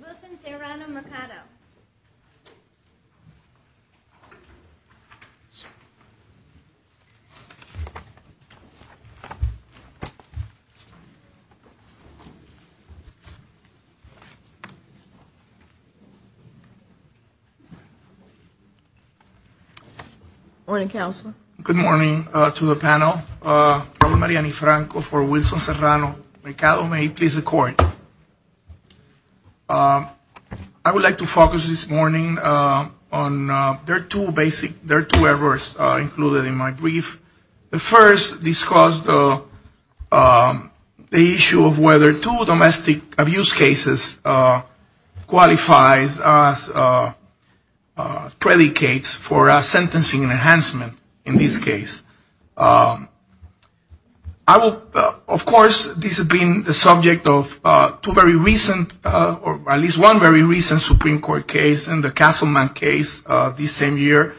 Wilson-Serrano-Mercado Morning, Counselor. I would like to focus this morning on their two basic, their two errors included in my brief. The first discussed the issue of whether two domestic abuse cases qualifies as predicates for sentencing enhancement in this case. Of course, this has been the subject of two very recent, or at least one very recent Supreme Court case and the Castleman case this same year.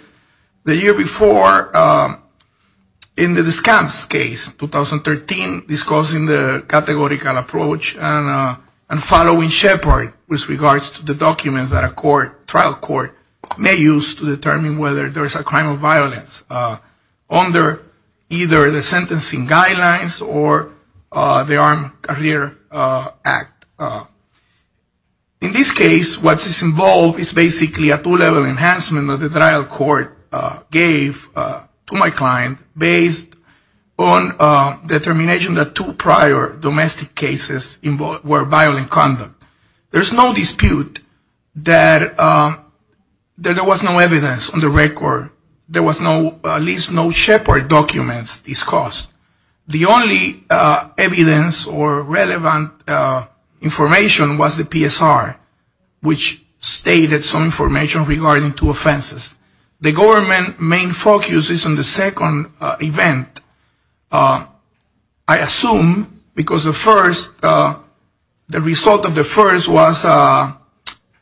The year before, in the Descamps case, 2013, discussing the categorical approach and following Shepard with regards to the documents that a trial court may use to determine whether there is a crime of violence under either the sentencing guidelines or the Armed Career Act. In this case, what is involved is basically a two-level enhancement that the trial court gave to my client based on determination that two prior domestic cases were violent conduct. There's no dispute that there was no evidence on the record. There was no, at least no Shepard documents discussed. The only evidence or relevant information was the PSR, which stated some information regarding two offenses. The government main focus is on the second event, I assume, because the first, the result of the first was a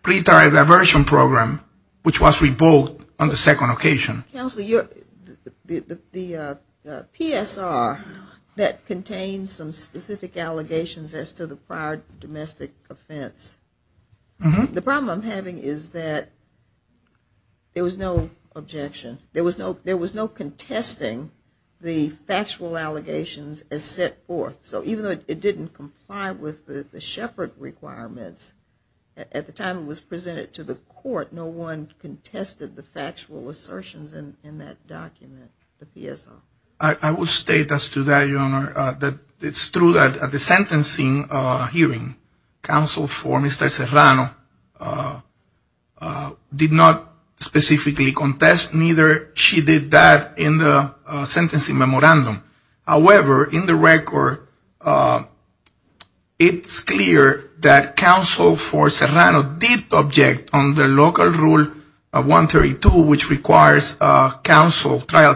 pretrial diversion program, which was revoked on the second occasion. Counsel, the PSR that contains some specific allegations as to the prior domestic offense, the problem I'm having is that there was no objection. There was no contesting the factual allegations as set forth. So even though it didn't comply with the Shepard requirements, at the time it was presented to the court, no one contested the factual assertions in that document, the PSR? I will state as to that, Your Honor, that it's true that at the sentencing hearing, counsel for Mr. Serrano did not specifically contest, neither did she in the sentencing memorandum. However, in the record, it's clear that counsel for Serrano did object on the local rule 132, which requires trial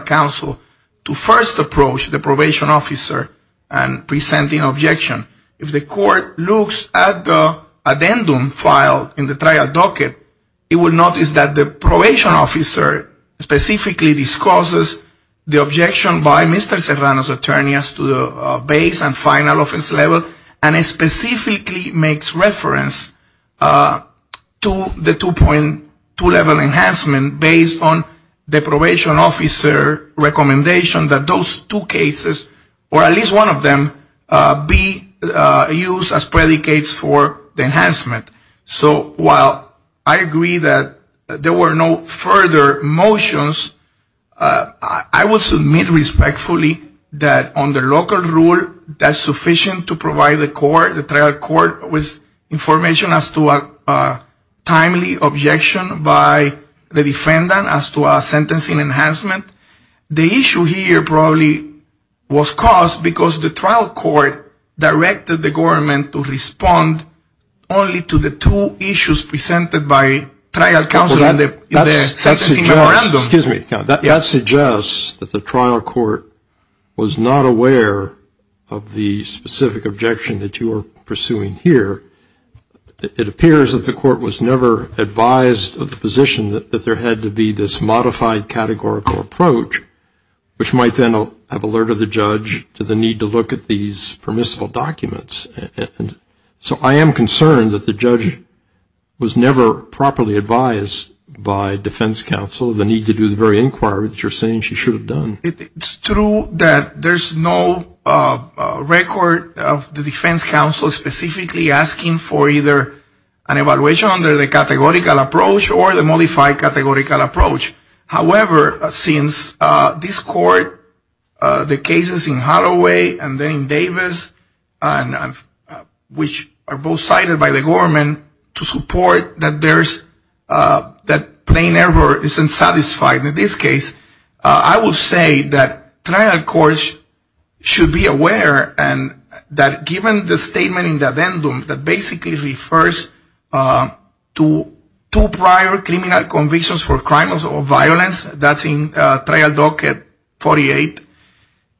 counsel to first approach the probation officer and present an objection. If the court looks at the addendum filed in the trial docket, it will notice that the probation officer specifically discusses the objection by Mr. Serrano's attorney as to the base and final offense level, and specifically makes reference to the 2.2 level enhancement based on the probation officer recommendation that those two cases, or at least one of them, be used as predicates for the enhancement. So while I agree that there were no further motions, I will submit respectfully that on the local rule, that's sufficient to provide the trial court with information as to a timely objection by the defendant as to a sentencing enhancement. The issue here probably was caused because the trial court directed the government to respond only to the two issues presented by trial counsel in the sentencing memorandum. That suggests that the trial court was not aware of the specific objection that you are pursuing here. It appears that the court was never advised of the position that there had to be this modified categorical approach, which might then have alerted the judge to the need to look at these permissible documents. So I am concerned that the judge was never properly advised by defense counsel of the need to do the very inquiry that you're saying she should have done. It's true that there's no record of the defense counsel specifically asking for either an evaluation under the categorical approach or the modified categorical approach. However, since this court, the cases in Holloway and then in Davis, which are both cited by the government to support that there's that plain error isn't satisfied in this case, I will say that trial courts should be aware and that given the statement in the addendum that basically refers to two prior criminal convictions for crimes of the violence, that's in trial docket 48,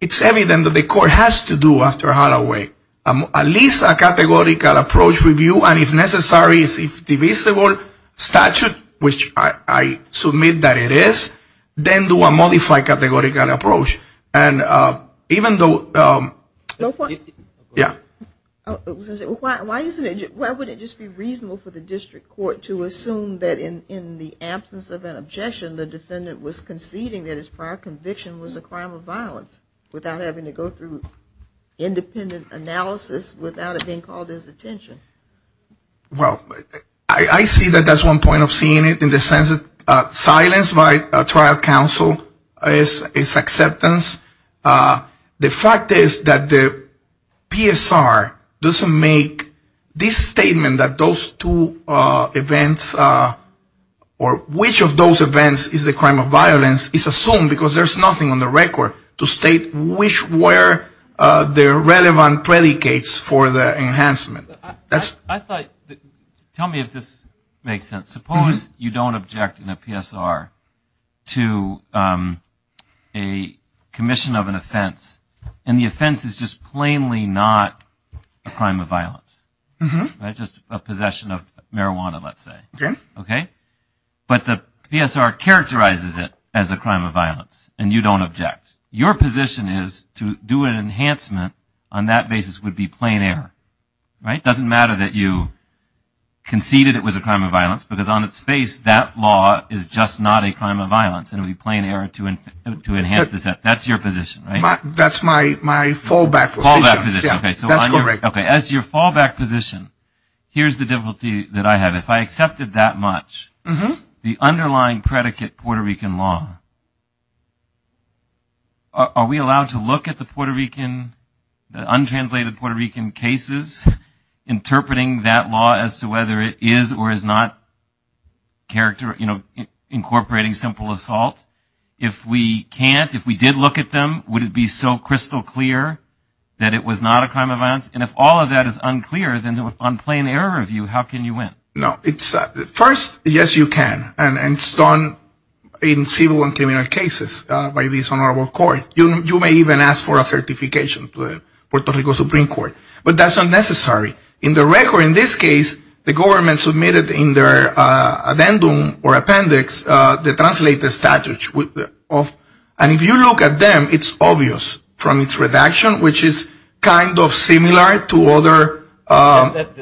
it's evident that the court has to do after Holloway at least a categorical approach review and if necessary a divisible statute, which I submit that it is, then do a modified categorical approach. And even though ‑‑ yeah. Why wouldn't it just be reasonable for the district court to assume that in the absence of an objection the defendant was conceding that his prior conviction was a crime of violence without having to go through independent analysis without it being called his attention? Well, I see that that's one point of seeing it in the sense of silence by trial counsel is acceptance. The fact is that the PSR doesn't make this statement that those two events or which of those events is a crime of violence is assumed because there's nothing on the record to state which were the relevant predicates for the enhancement. I thought ‑‑ tell me if this makes sense. Suppose you don't object in a PSR to a commission of an offense and the offense is just plainly not a crime of violence. Just a possession of marijuana, let's say. But the PSR characterizes it as a crime of violence and you don't object. Your position is to do an enhancement on that basis would be plain error, right? It doesn't matter that you conceded it was a crime of violence because on its face that law is just not a crime of violence and it would be plain error to enhance this. That's your position, right? That's my fallback position. As your fallback position, here's the difficulty that I have. If I accepted that much, the underlying predicate Puerto Rican law, are we allowed to look at the Puerto Rican, the untranslated Puerto Rican cases, interpreting that law as to whether it is or is not incorporating simple assault? If we can't, if we did look at them, would it be so crystal clear that it was not a crime of violence? And if all of that is unclear, then on plain error of view, how can you win? First, yes, you can, and it's done in civil and criminal cases by this honorable court. You may even ask for a certification to the Puerto Rico Supreme Court. But that's unnecessary. In the record, in this case, the government submitted in their addendum or appendix the translated statutes. And if you look at them, it's obvious from its redaction, which is kind of similar to other...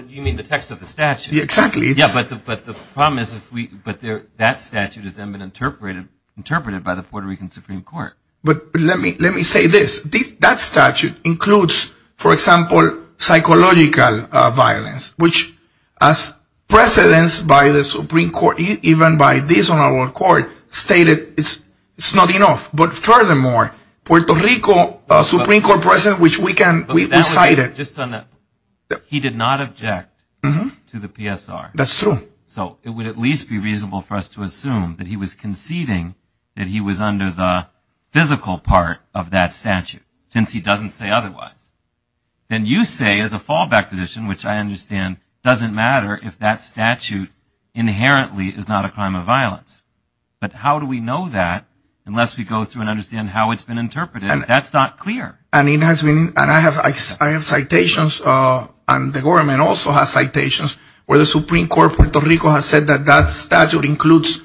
You mean the text of the statute? Exactly. Yeah, but the problem is that that statute has then been interpreted by the Puerto Rican Supreme Court. But let me say this. That statute includes, for example, psychological violence, which as precedence by the Supreme Court, even by this honorable court, stated it's not enough. But furthermore, Puerto Rico Supreme Court precedent, which we can... He did not object to the PSR. That's true. So it would at least be reasonable for us to assume that he was conceding that he was under the physical part of that statute, since he doesn't say otherwise. Then you say as a fallback position, which I understand doesn't matter if that statute inherently is not a crime of violence. But how do we know that unless we go through and understand how it's been interpreted? That's not clear. And I have citations, and the government also has citations, where the Supreme Court of Puerto Rico has said that that statute includes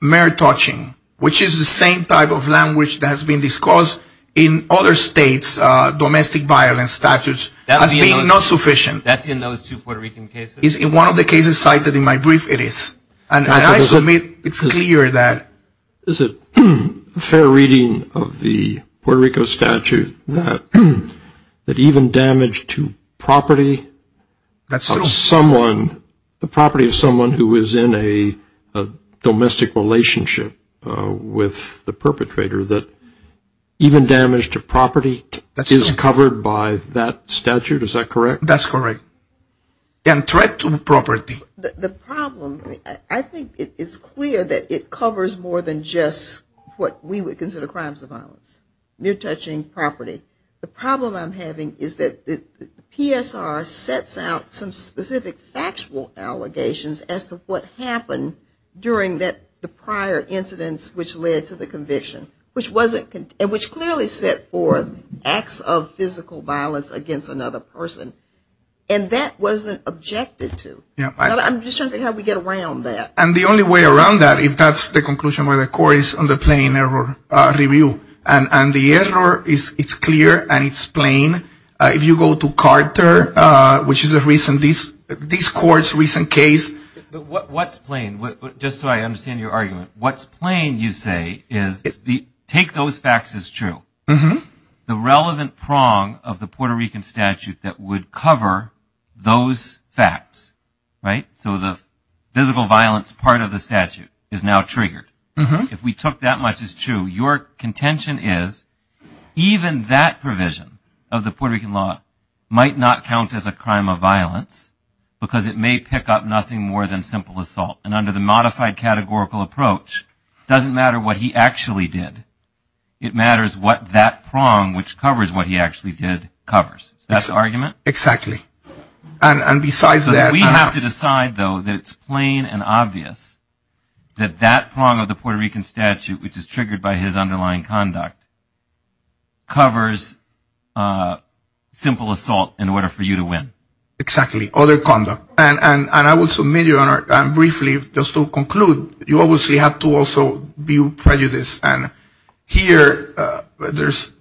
mere touching, which is the same type of language that has been discussed in other states, domestic violence statutes, as being not sufficient. That's in those two Puerto Rican cases? In one of the cases cited in my brief, it is. And I submit it's clear that... Is it fair reading of the Puerto Rico statute that even damage to property of someone, the property of someone who is in a domestic relationship with the perpetrator, that even damage to property is covered by that statute? Is that correct? That's correct. And threat to property. The problem, I think it's clear that it covers more than just what we would consider crimes of violence. Mere touching, property. The problem I'm having is that the PSR sets out some specific factual allegations as to what happened during the prior incidents which led to the conviction, which clearly set forth acts of physical violence against another person. And that wasn't objected to. I'm just trying to figure out how we get around that. And the only way around that, if that's the conclusion where the court is on the plain error review. And the error, it's clear and it's plain. If you go to Carter, which is a recent, this court's recent case... What's plain, just so I understand your argument, what's plain, you say, is take those facts as true. The relevant prong of the Puerto Rican statute that would cover those facts. So the physical violence part of the statute is now triggered. If we took that much as true, your contention is even that provision of the Puerto Rican law might not count as a crime of violence because it may pick up nothing more than simple assault. And under the modified categorical approach, it doesn't matter what he actually did. It matters what that prong, which covers what he actually did, covers. Is that the argument? Exactly. And besides that... We have to decide, though, that it's plain and obvious that that prong of the Puerto Rican statute, which is triggered by his underlying conduct, covers simple assault in order for you to win. Exactly. Other conduct. And I will submit, briefly, just to conclude, you obviously have to also view prejudice. And here, there's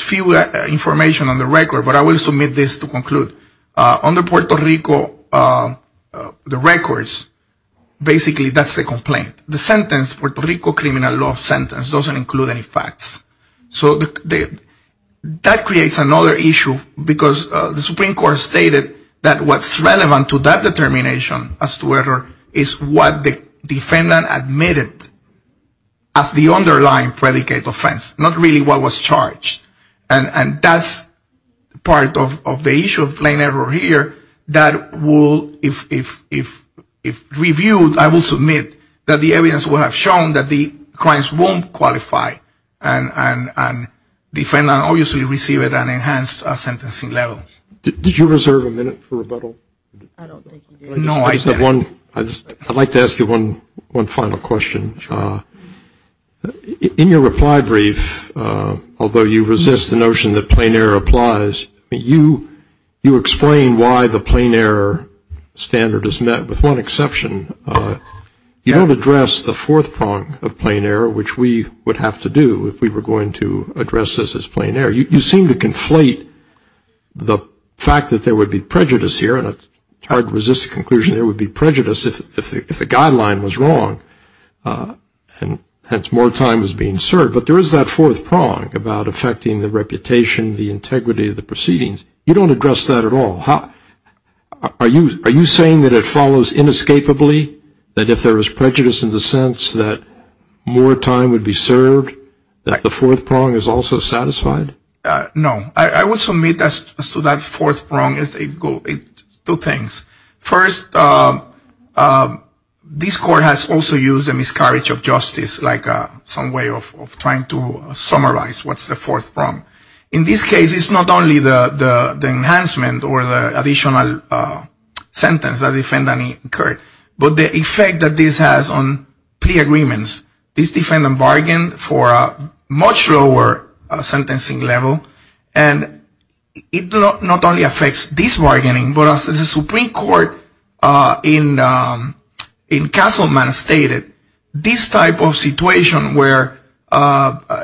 few information on the record, but I will submit this to conclude. Under Puerto Rico, the records, basically, that's the complaint. The sentence, Puerto Rico criminal law sentence, doesn't include any facts. So that creates another issue, because the Supreme Court stated that what's relevant to that determination as to error is what the defendant admitted as the underlying predicate offense, not really what was charged. And that's part of the issue of plain error here that will, if reviewed, I will submit that the evidence will have shown that the crimes won't qualify. And the defendant obviously received an enhanced sentencing level. Did you reserve a minute for rebuttal? No, I said... I'd like to ask you one final question. In your reply brief, although you resist the notion that plain error applies, you explain why the plain error standard is met, with one exception. You don't address the fourth prong of plain error, which we would have to do if we were going to address this as plain error. You seem to conflate the fact that there would be prejudice here, and it's hard to resist the conclusion there would be prejudice if the guideline was wrong, and hence more time was being served. But there is that fourth prong about affecting the reputation, the integrity of the proceedings. You don't address that at all. Are you saying that it follows inescapably, that if there was prejudice in the sense that more time would be served, that the fourth prong is also satisfied? No. I would submit as to that fourth prong, two things. First, this Court has also used a miscarriage of justice, like some way of trying to summarize what's the fourth prong. In this case, it's not only the enhancement or the additional sentence that the defendant incurred, but the effect that this has on plea agreements. This defendant bargained for a much lower sentencing level, and it not only affects this bargaining, but as the Supreme Court in Castleman stated, this type of situation where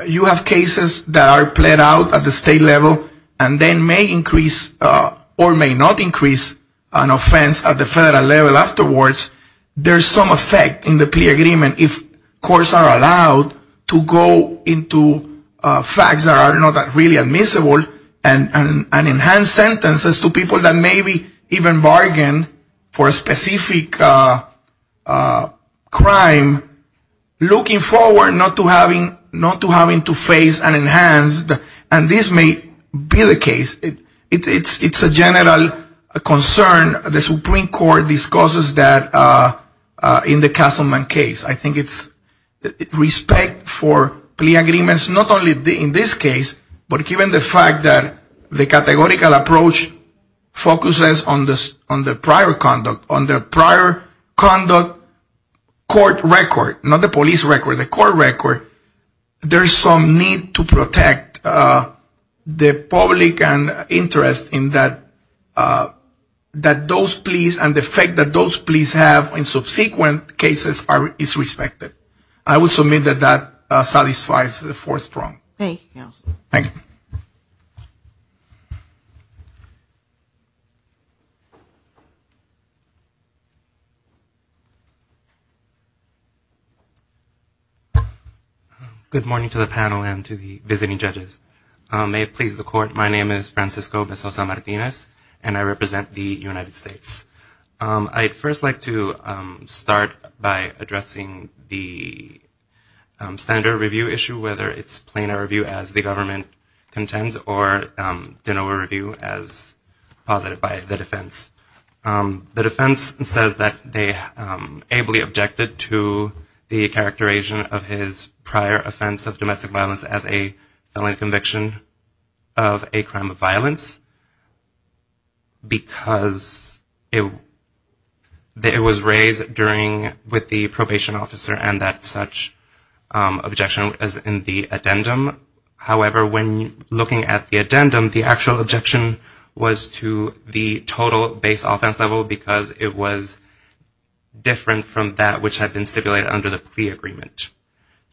you have cases that are played out at the state level and then may increase or may not increase an offense at the federal level afterwards, there's some effect in the plea agreement if courts are allowed to go into facts that are not really admissible and enhance sentences to people that maybe even bargained for a specific crime, looking forward, not to having to face and enhance, and this may be the case. It's a general concern the Supreme Court discusses in the Castleman case. I think it's respect for plea agreements, not only in this case, but given the fact that the categorical approach focuses on the prior conduct, on the prior conduct court record, not the police record, the court record, there's some need to protect the public interest in that those pleas and the fact that those pleas have in subsequent cases is respected. I would submit that that satisfies the fourth prong. Good morning to the panel and to the visiting judges. May it please the court, my name is Francisco Mezosa Martinez, and I represent the United States. I'd first like to start by addressing the standard review issue, whether it's plainer review as the government contends or de novo review as posited by the defense. The defense says that they ably objected to the characterization of his prior offense of domestic violence as a felony conviction of a crime of violence, because it was raised with the probation officer and that such objection was in the addendum. However, when looking at the addendum, the actual objection was to the total base offense level, because it was different from that which had been stipulated under the plea agreement.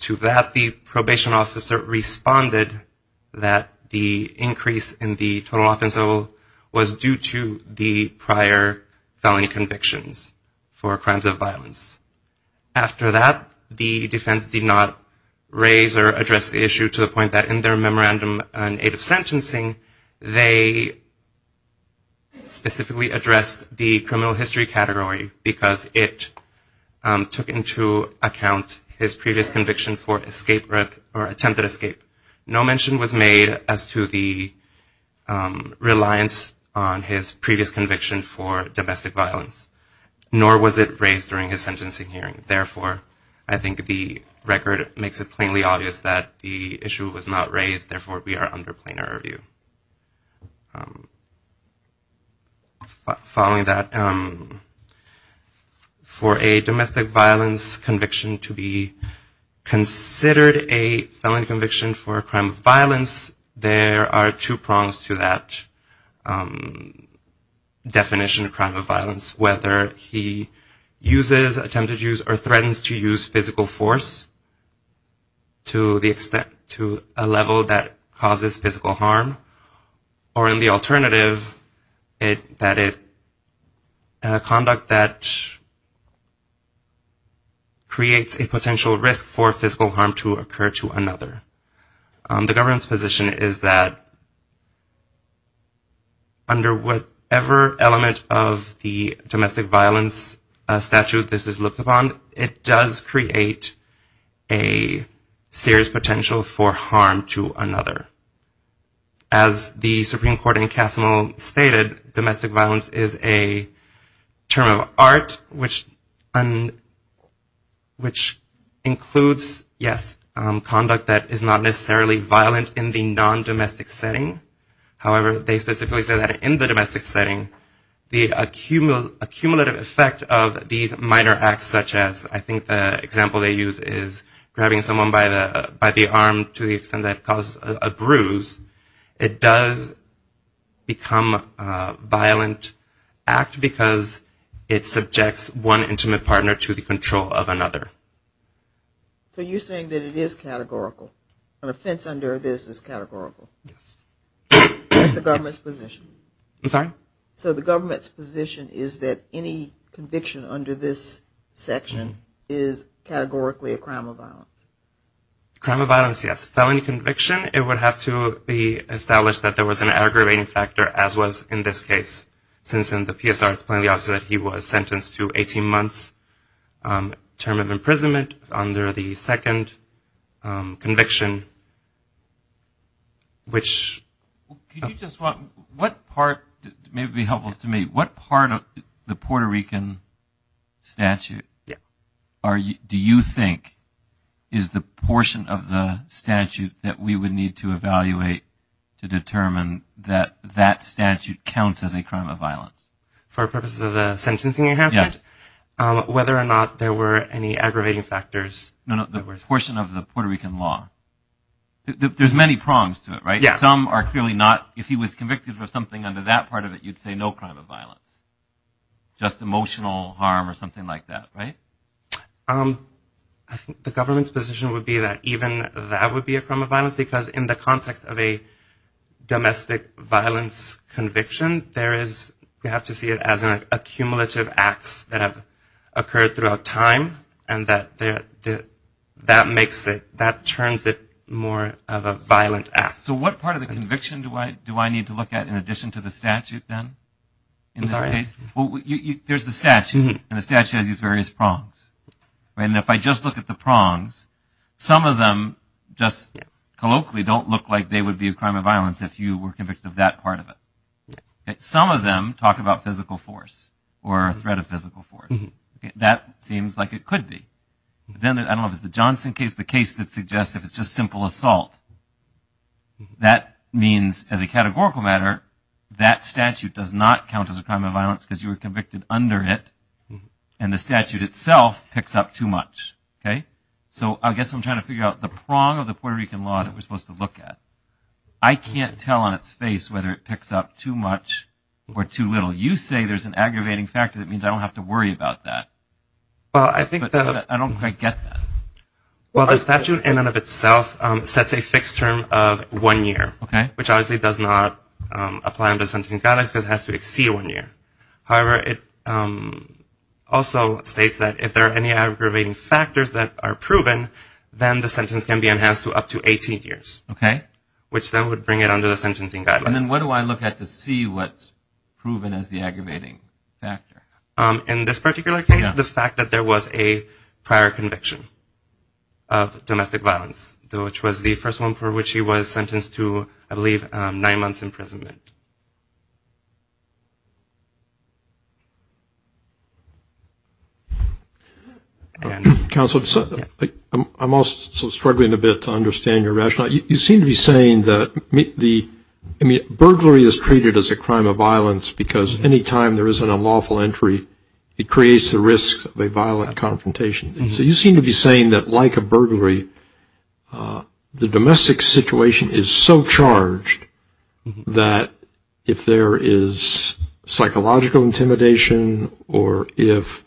To that, the probation officer responded that the increase in the total offense level was due to the prior felony convictions for crimes of violence. After that, the defense did not raise or address the issue to the point that in their memorandum in aid of sentencing, they specifically addressed the criminal history category, because it took into account his previous conviction for attempted escape. No mention was made as to the reliance on his previous conviction for domestic violence, nor was it raised during his sentencing. Therefore, I think the record makes it plainly obvious that the issue was not raised. Therefore, we are under plainer review. Following that, for a domestic violence conviction to be considered a felony conviction for a crime of violence, there are two prongs to that definition of crime of violence. One is whether he uses, attempted use, or threatens to use physical force to a level that causes physical harm. Or in the alternative, conduct that creates a potential risk for physical harm to occur to another. The government's position is that under whatever element of the domestic violence conviction to be considered a felony conviction, there is no domestic violence statute this is looked upon, it does create a serious potential for harm to another. As the Supreme Court in Cassimo stated, domestic violence is a term of art, which includes, yes, conduct that is not necessarily violent in the non-domestic setting. However, they specifically say that in the domestic setting, the accumulative effect of these minor acts such as, I think the example they use is grabbing someone by the arm to the extent that it causes a bruise. It does become a violent act because it subjects one intimate partner to the control of another. So you're saying that it is categorical, an offense under this is categorical? Yes. That's the government's position? I'm sorry? So the government's position is that any conviction under this section is categorically a crime of violence? Crime of violence, yes. Felony conviction, it would have to be established that there was an aggravating factor, as was in this case. Since in the PSR it's plainly obvious that he was sentenced to 18 months term of imprisonment under the second conviction, which... Could you just, what part, maybe it would be helpful to me, what part of the Puerto Rican statute do you think is the portion of the statute that we would need to evaluate to determine that that statute counts as a crime of violence? For purposes of the sentencing enhancement? Yes. Whether or not there were any aggravating factors? No, no, the portion of the Puerto Rican law. There's many prongs to it, right? Yes. Some are clearly not, if he was convicted for something under that part of it, you'd say no crime of violence. Just emotional harm or something like that, right? I think the government's position would be that even that would be a crime of violence, because in the context of a domestic violence conviction, there is, we have to see it as an accumulative acts that have occurred throughout time, and that makes it, that turns it more of a violent act. So what part of the conviction do I need to look at in addition to the statute then? In this case, there's the statute, and the statute has these various prongs, right? And if I just look at the prongs, some of them just colloquially don't look like they would be a crime of violence if you were convicted of that part of it. Some of them talk about physical force or threat of physical force. That seems like it could be. Then, I don't know if it's the Johnson case, the case that suggests if it's just simple assault, that means as a categorical matter, that statute does not count as a crime of violence. Because you were convicted under it, and the statute itself picks up too much, okay? So I guess I'm trying to figure out the prong of the Puerto Rican law that we're supposed to look at. I can't tell on its face whether it picks up too much or too little. You say there's an aggravating factor that means I don't have to worry about that. But I don't quite get that. Well, the statute in and of itself sets a fixed term of one year. Okay. Which obviously does not apply under sentencing guidelines, because it has to exceed one year. However, it also states that if there are any aggravating factors that are proven, then the sentence can be enhanced to up to 18 years. Okay. Which then would bring it under the sentencing guidelines. And then what do I look at to see what's proven as the aggravating factor? In this particular case, the fact that there was a prior conviction of domestic violence, which was the first one for which he was sentenced to, I believe, 18 years. And nine months imprisonment. Counsel, I'm also struggling a bit to understand your rationale. You seem to be saying that burglary is treated as a crime of violence, because any time there is an unlawful entry, it creates the risk of a violent confrontation. So you seem to be saying that, like a burglary, the domestic situation is so charged that there is a risk of a violent confrontation. That if there is psychological intimidation, or if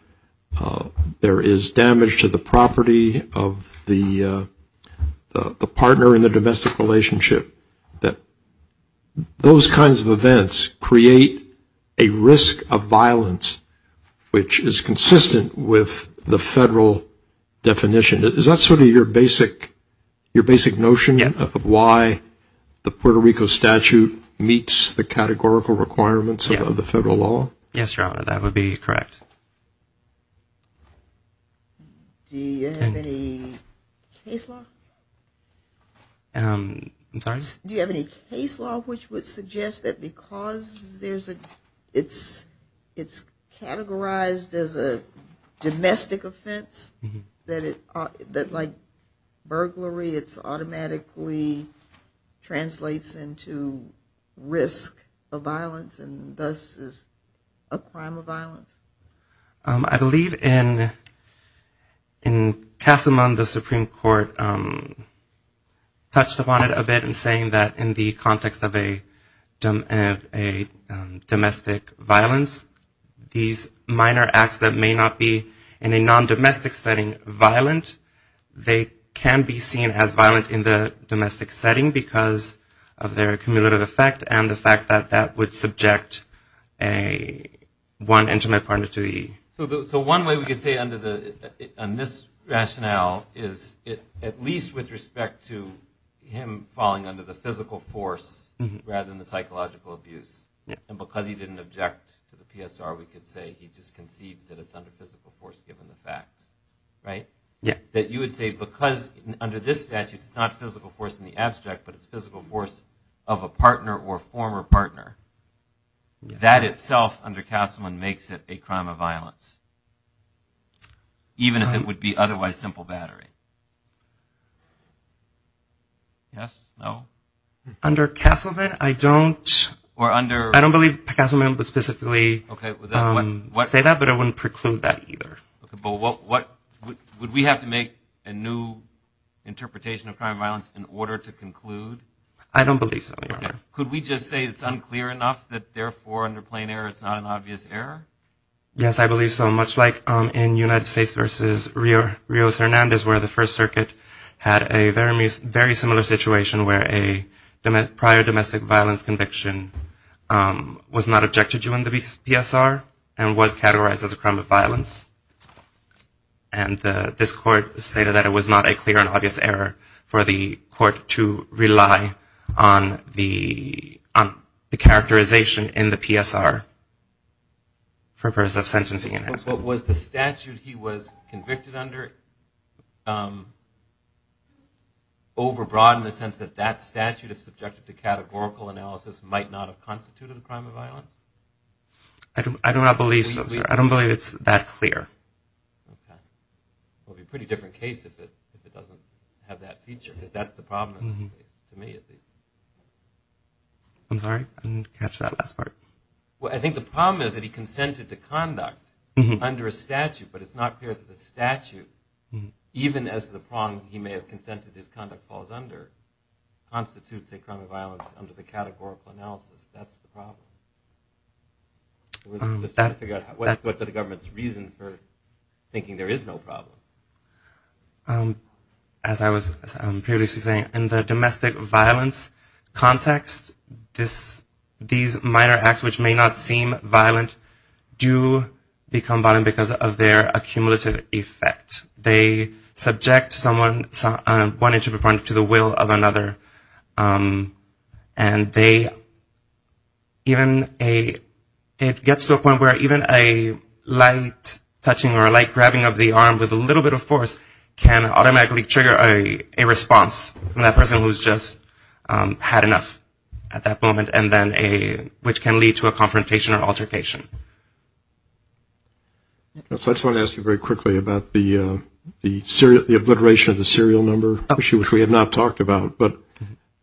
there is damage to the property of the partner in the domestic relationship, that those kinds of events create a risk of violence, which is consistent with the federal definition. Is that sort of your basic notion of why the Puerto Rico State Department of Justice decided to do this? Because the statute meets the categorical requirements of the federal law? Yes, Your Honor, that would be correct. Do you have any case law? I'm sorry? Do you have any case law which would suggest that because it's categorized as a domestic offense, that like burglary, it automatically translates into a domestic offense? I believe in Castlemont, the Supreme Court touched upon it a bit in saying that in the context of a domestic violence, these minor acts that may not be, in a non-domestic setting, violent, they can be seen as violent in the domestic setting, because of their community. So one way we could say on this rationale is, at least with respect to him falling under the physical force, rather than the psychological abuse, and because he didn't object to the PSR, we could say he just conceives that it's under physical force, given the facts. That you would say, because under this statute, it's not physical force in the abstract, but it's physical force of a partner. A partner or former partner. That itself, under Castlemont, makes it a crime of violence. Even if it would be otherwise simple battery. Yes? No? Under Castlemont, I don't believe Castlemont would specifically say that, but I wouldn't preclude that either. Would we have to make a new interpretation of crime of violence in order to conclude? I don't believe so, Your Honor. Could we just say it's unclear enough, that therefore, under plain error, it's not an obvious error? Yes, I believe so. Much like in United States v. Rios-Hernandez, where the First Circuit had a very similar situation, where a prior domestic violence conviction was not objected to in the PSR, and was categorized as a crime of violence. And this Court stated that it was not a clear and obvious error for the Court to rely on the PSR. Was the statute he was convicted under over-broadened the sense that that statute, if subjected to categorical analysis, might not have constituted a crime of violence? I do not believe so, Your Honor. I don't believe it's that clear. It would be a pretty different case if it doesn't have that feature. I'm sorry, I didn't catch that last part. Well, I think the problem is that he consented to conduct under a statute, but it's not clear that the statute, even as the prong he may have consented his conduct falls under, constitutes a crime of violence under the categorical analysis. That's the problem. What's the government's reason for thinking there is no problem? As I was previously saying, in the domestic violence context, these minor acts, which may not seem violent, do become violent because of their accumulative effect. They subject one interpreter to the will of another, and it gets to a point where even a light touching or a light grabbing of the arm with a little bit of force is not a crime. But a light touching or a light grabbing of the arm with a little bit of force can automatically trigger a response from that person who has just had enough at that moment, which can lead to a confrontation or altercation. That's why I want to ask you very quickly about the obliteration of the serial number, which we have not talked about. But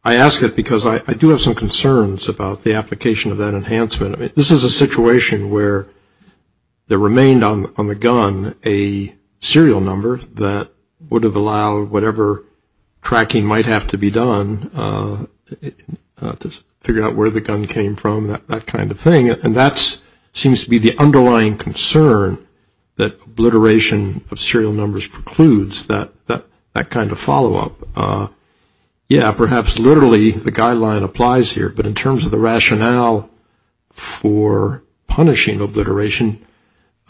I ask it because I do have some concerns about the application of that enhancement. This is a situation where there remained on the gun a serial number, and that serial number is a crime. That would have allowed whatever tracking might have to be done to figure out where the gun came from, that kind of thing. And that seems to be the underlying concern, that obliteration of serial numbers precludes that kind of follow-up. Yeah, perhaps literally the guideline applies here, but in terms of the rationale for punishing obliteration,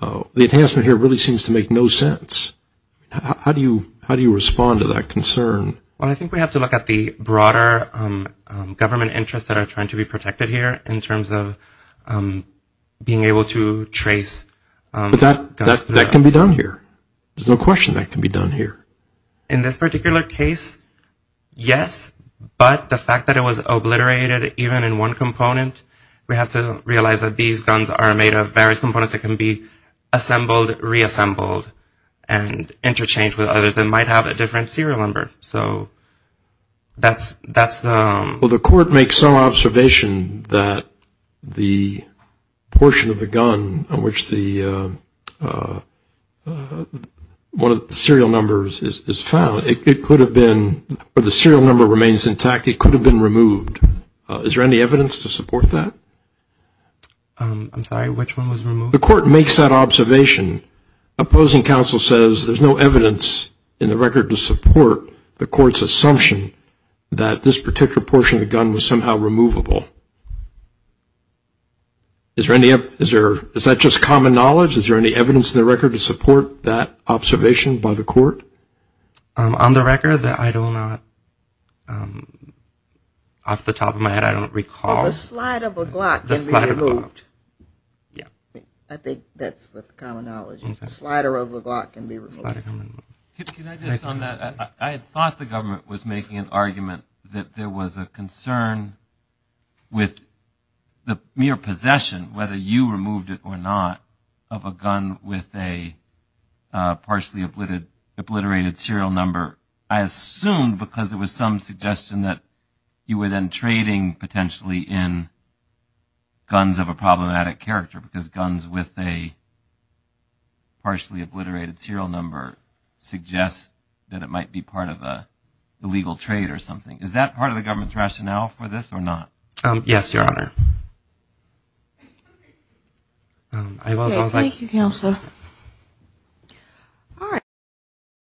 the enhancement here really seems to make no sense. How do you respond to that concern? Well, I think we have to look at the broader government interests that are trying to be protected here in terms of being able to trace guns. But that can be done here. There's no question that can be done here. In this particular case, yes, but the fact that it was obliterated even in one component, we have to realize that these guns are made of various components that can be assembled, reassembled, and interchanged with others that might have a different serial number. So that's the... Well, the court makes some observation that the portion of the gun on which the one of the serial numbers is found, it could have been, or the serial number remains intact, it could have been removed. Is there any evidence to support that? I'm sorry, which one was removed? The court makes that observation. Opposing counsel says there's no evidence in the record to support the court's assumption that this particular portion of the gun was somehow removable. Is that just common knowledge? Is there any evidence in the record to support that observation by the court? On the record that I do not... Off the top of my head, I don't recall... The slider of a Glock can be removed. I think that's what the common knowledge is. The slider of a Glock can be removed. Can I just on that? I thought the government was making an argument that there was a concern with the mere possession, with a partially obliterated serial number, I assume because there was some suggestion that you were then trading potentially in guns of a problematic character, because guns with a partially obliterated serial number suggest that it might be part of a legal trade or something. Is that part of the government's rationale for this or not? Yes, Your Honor. Thank you, Counselor.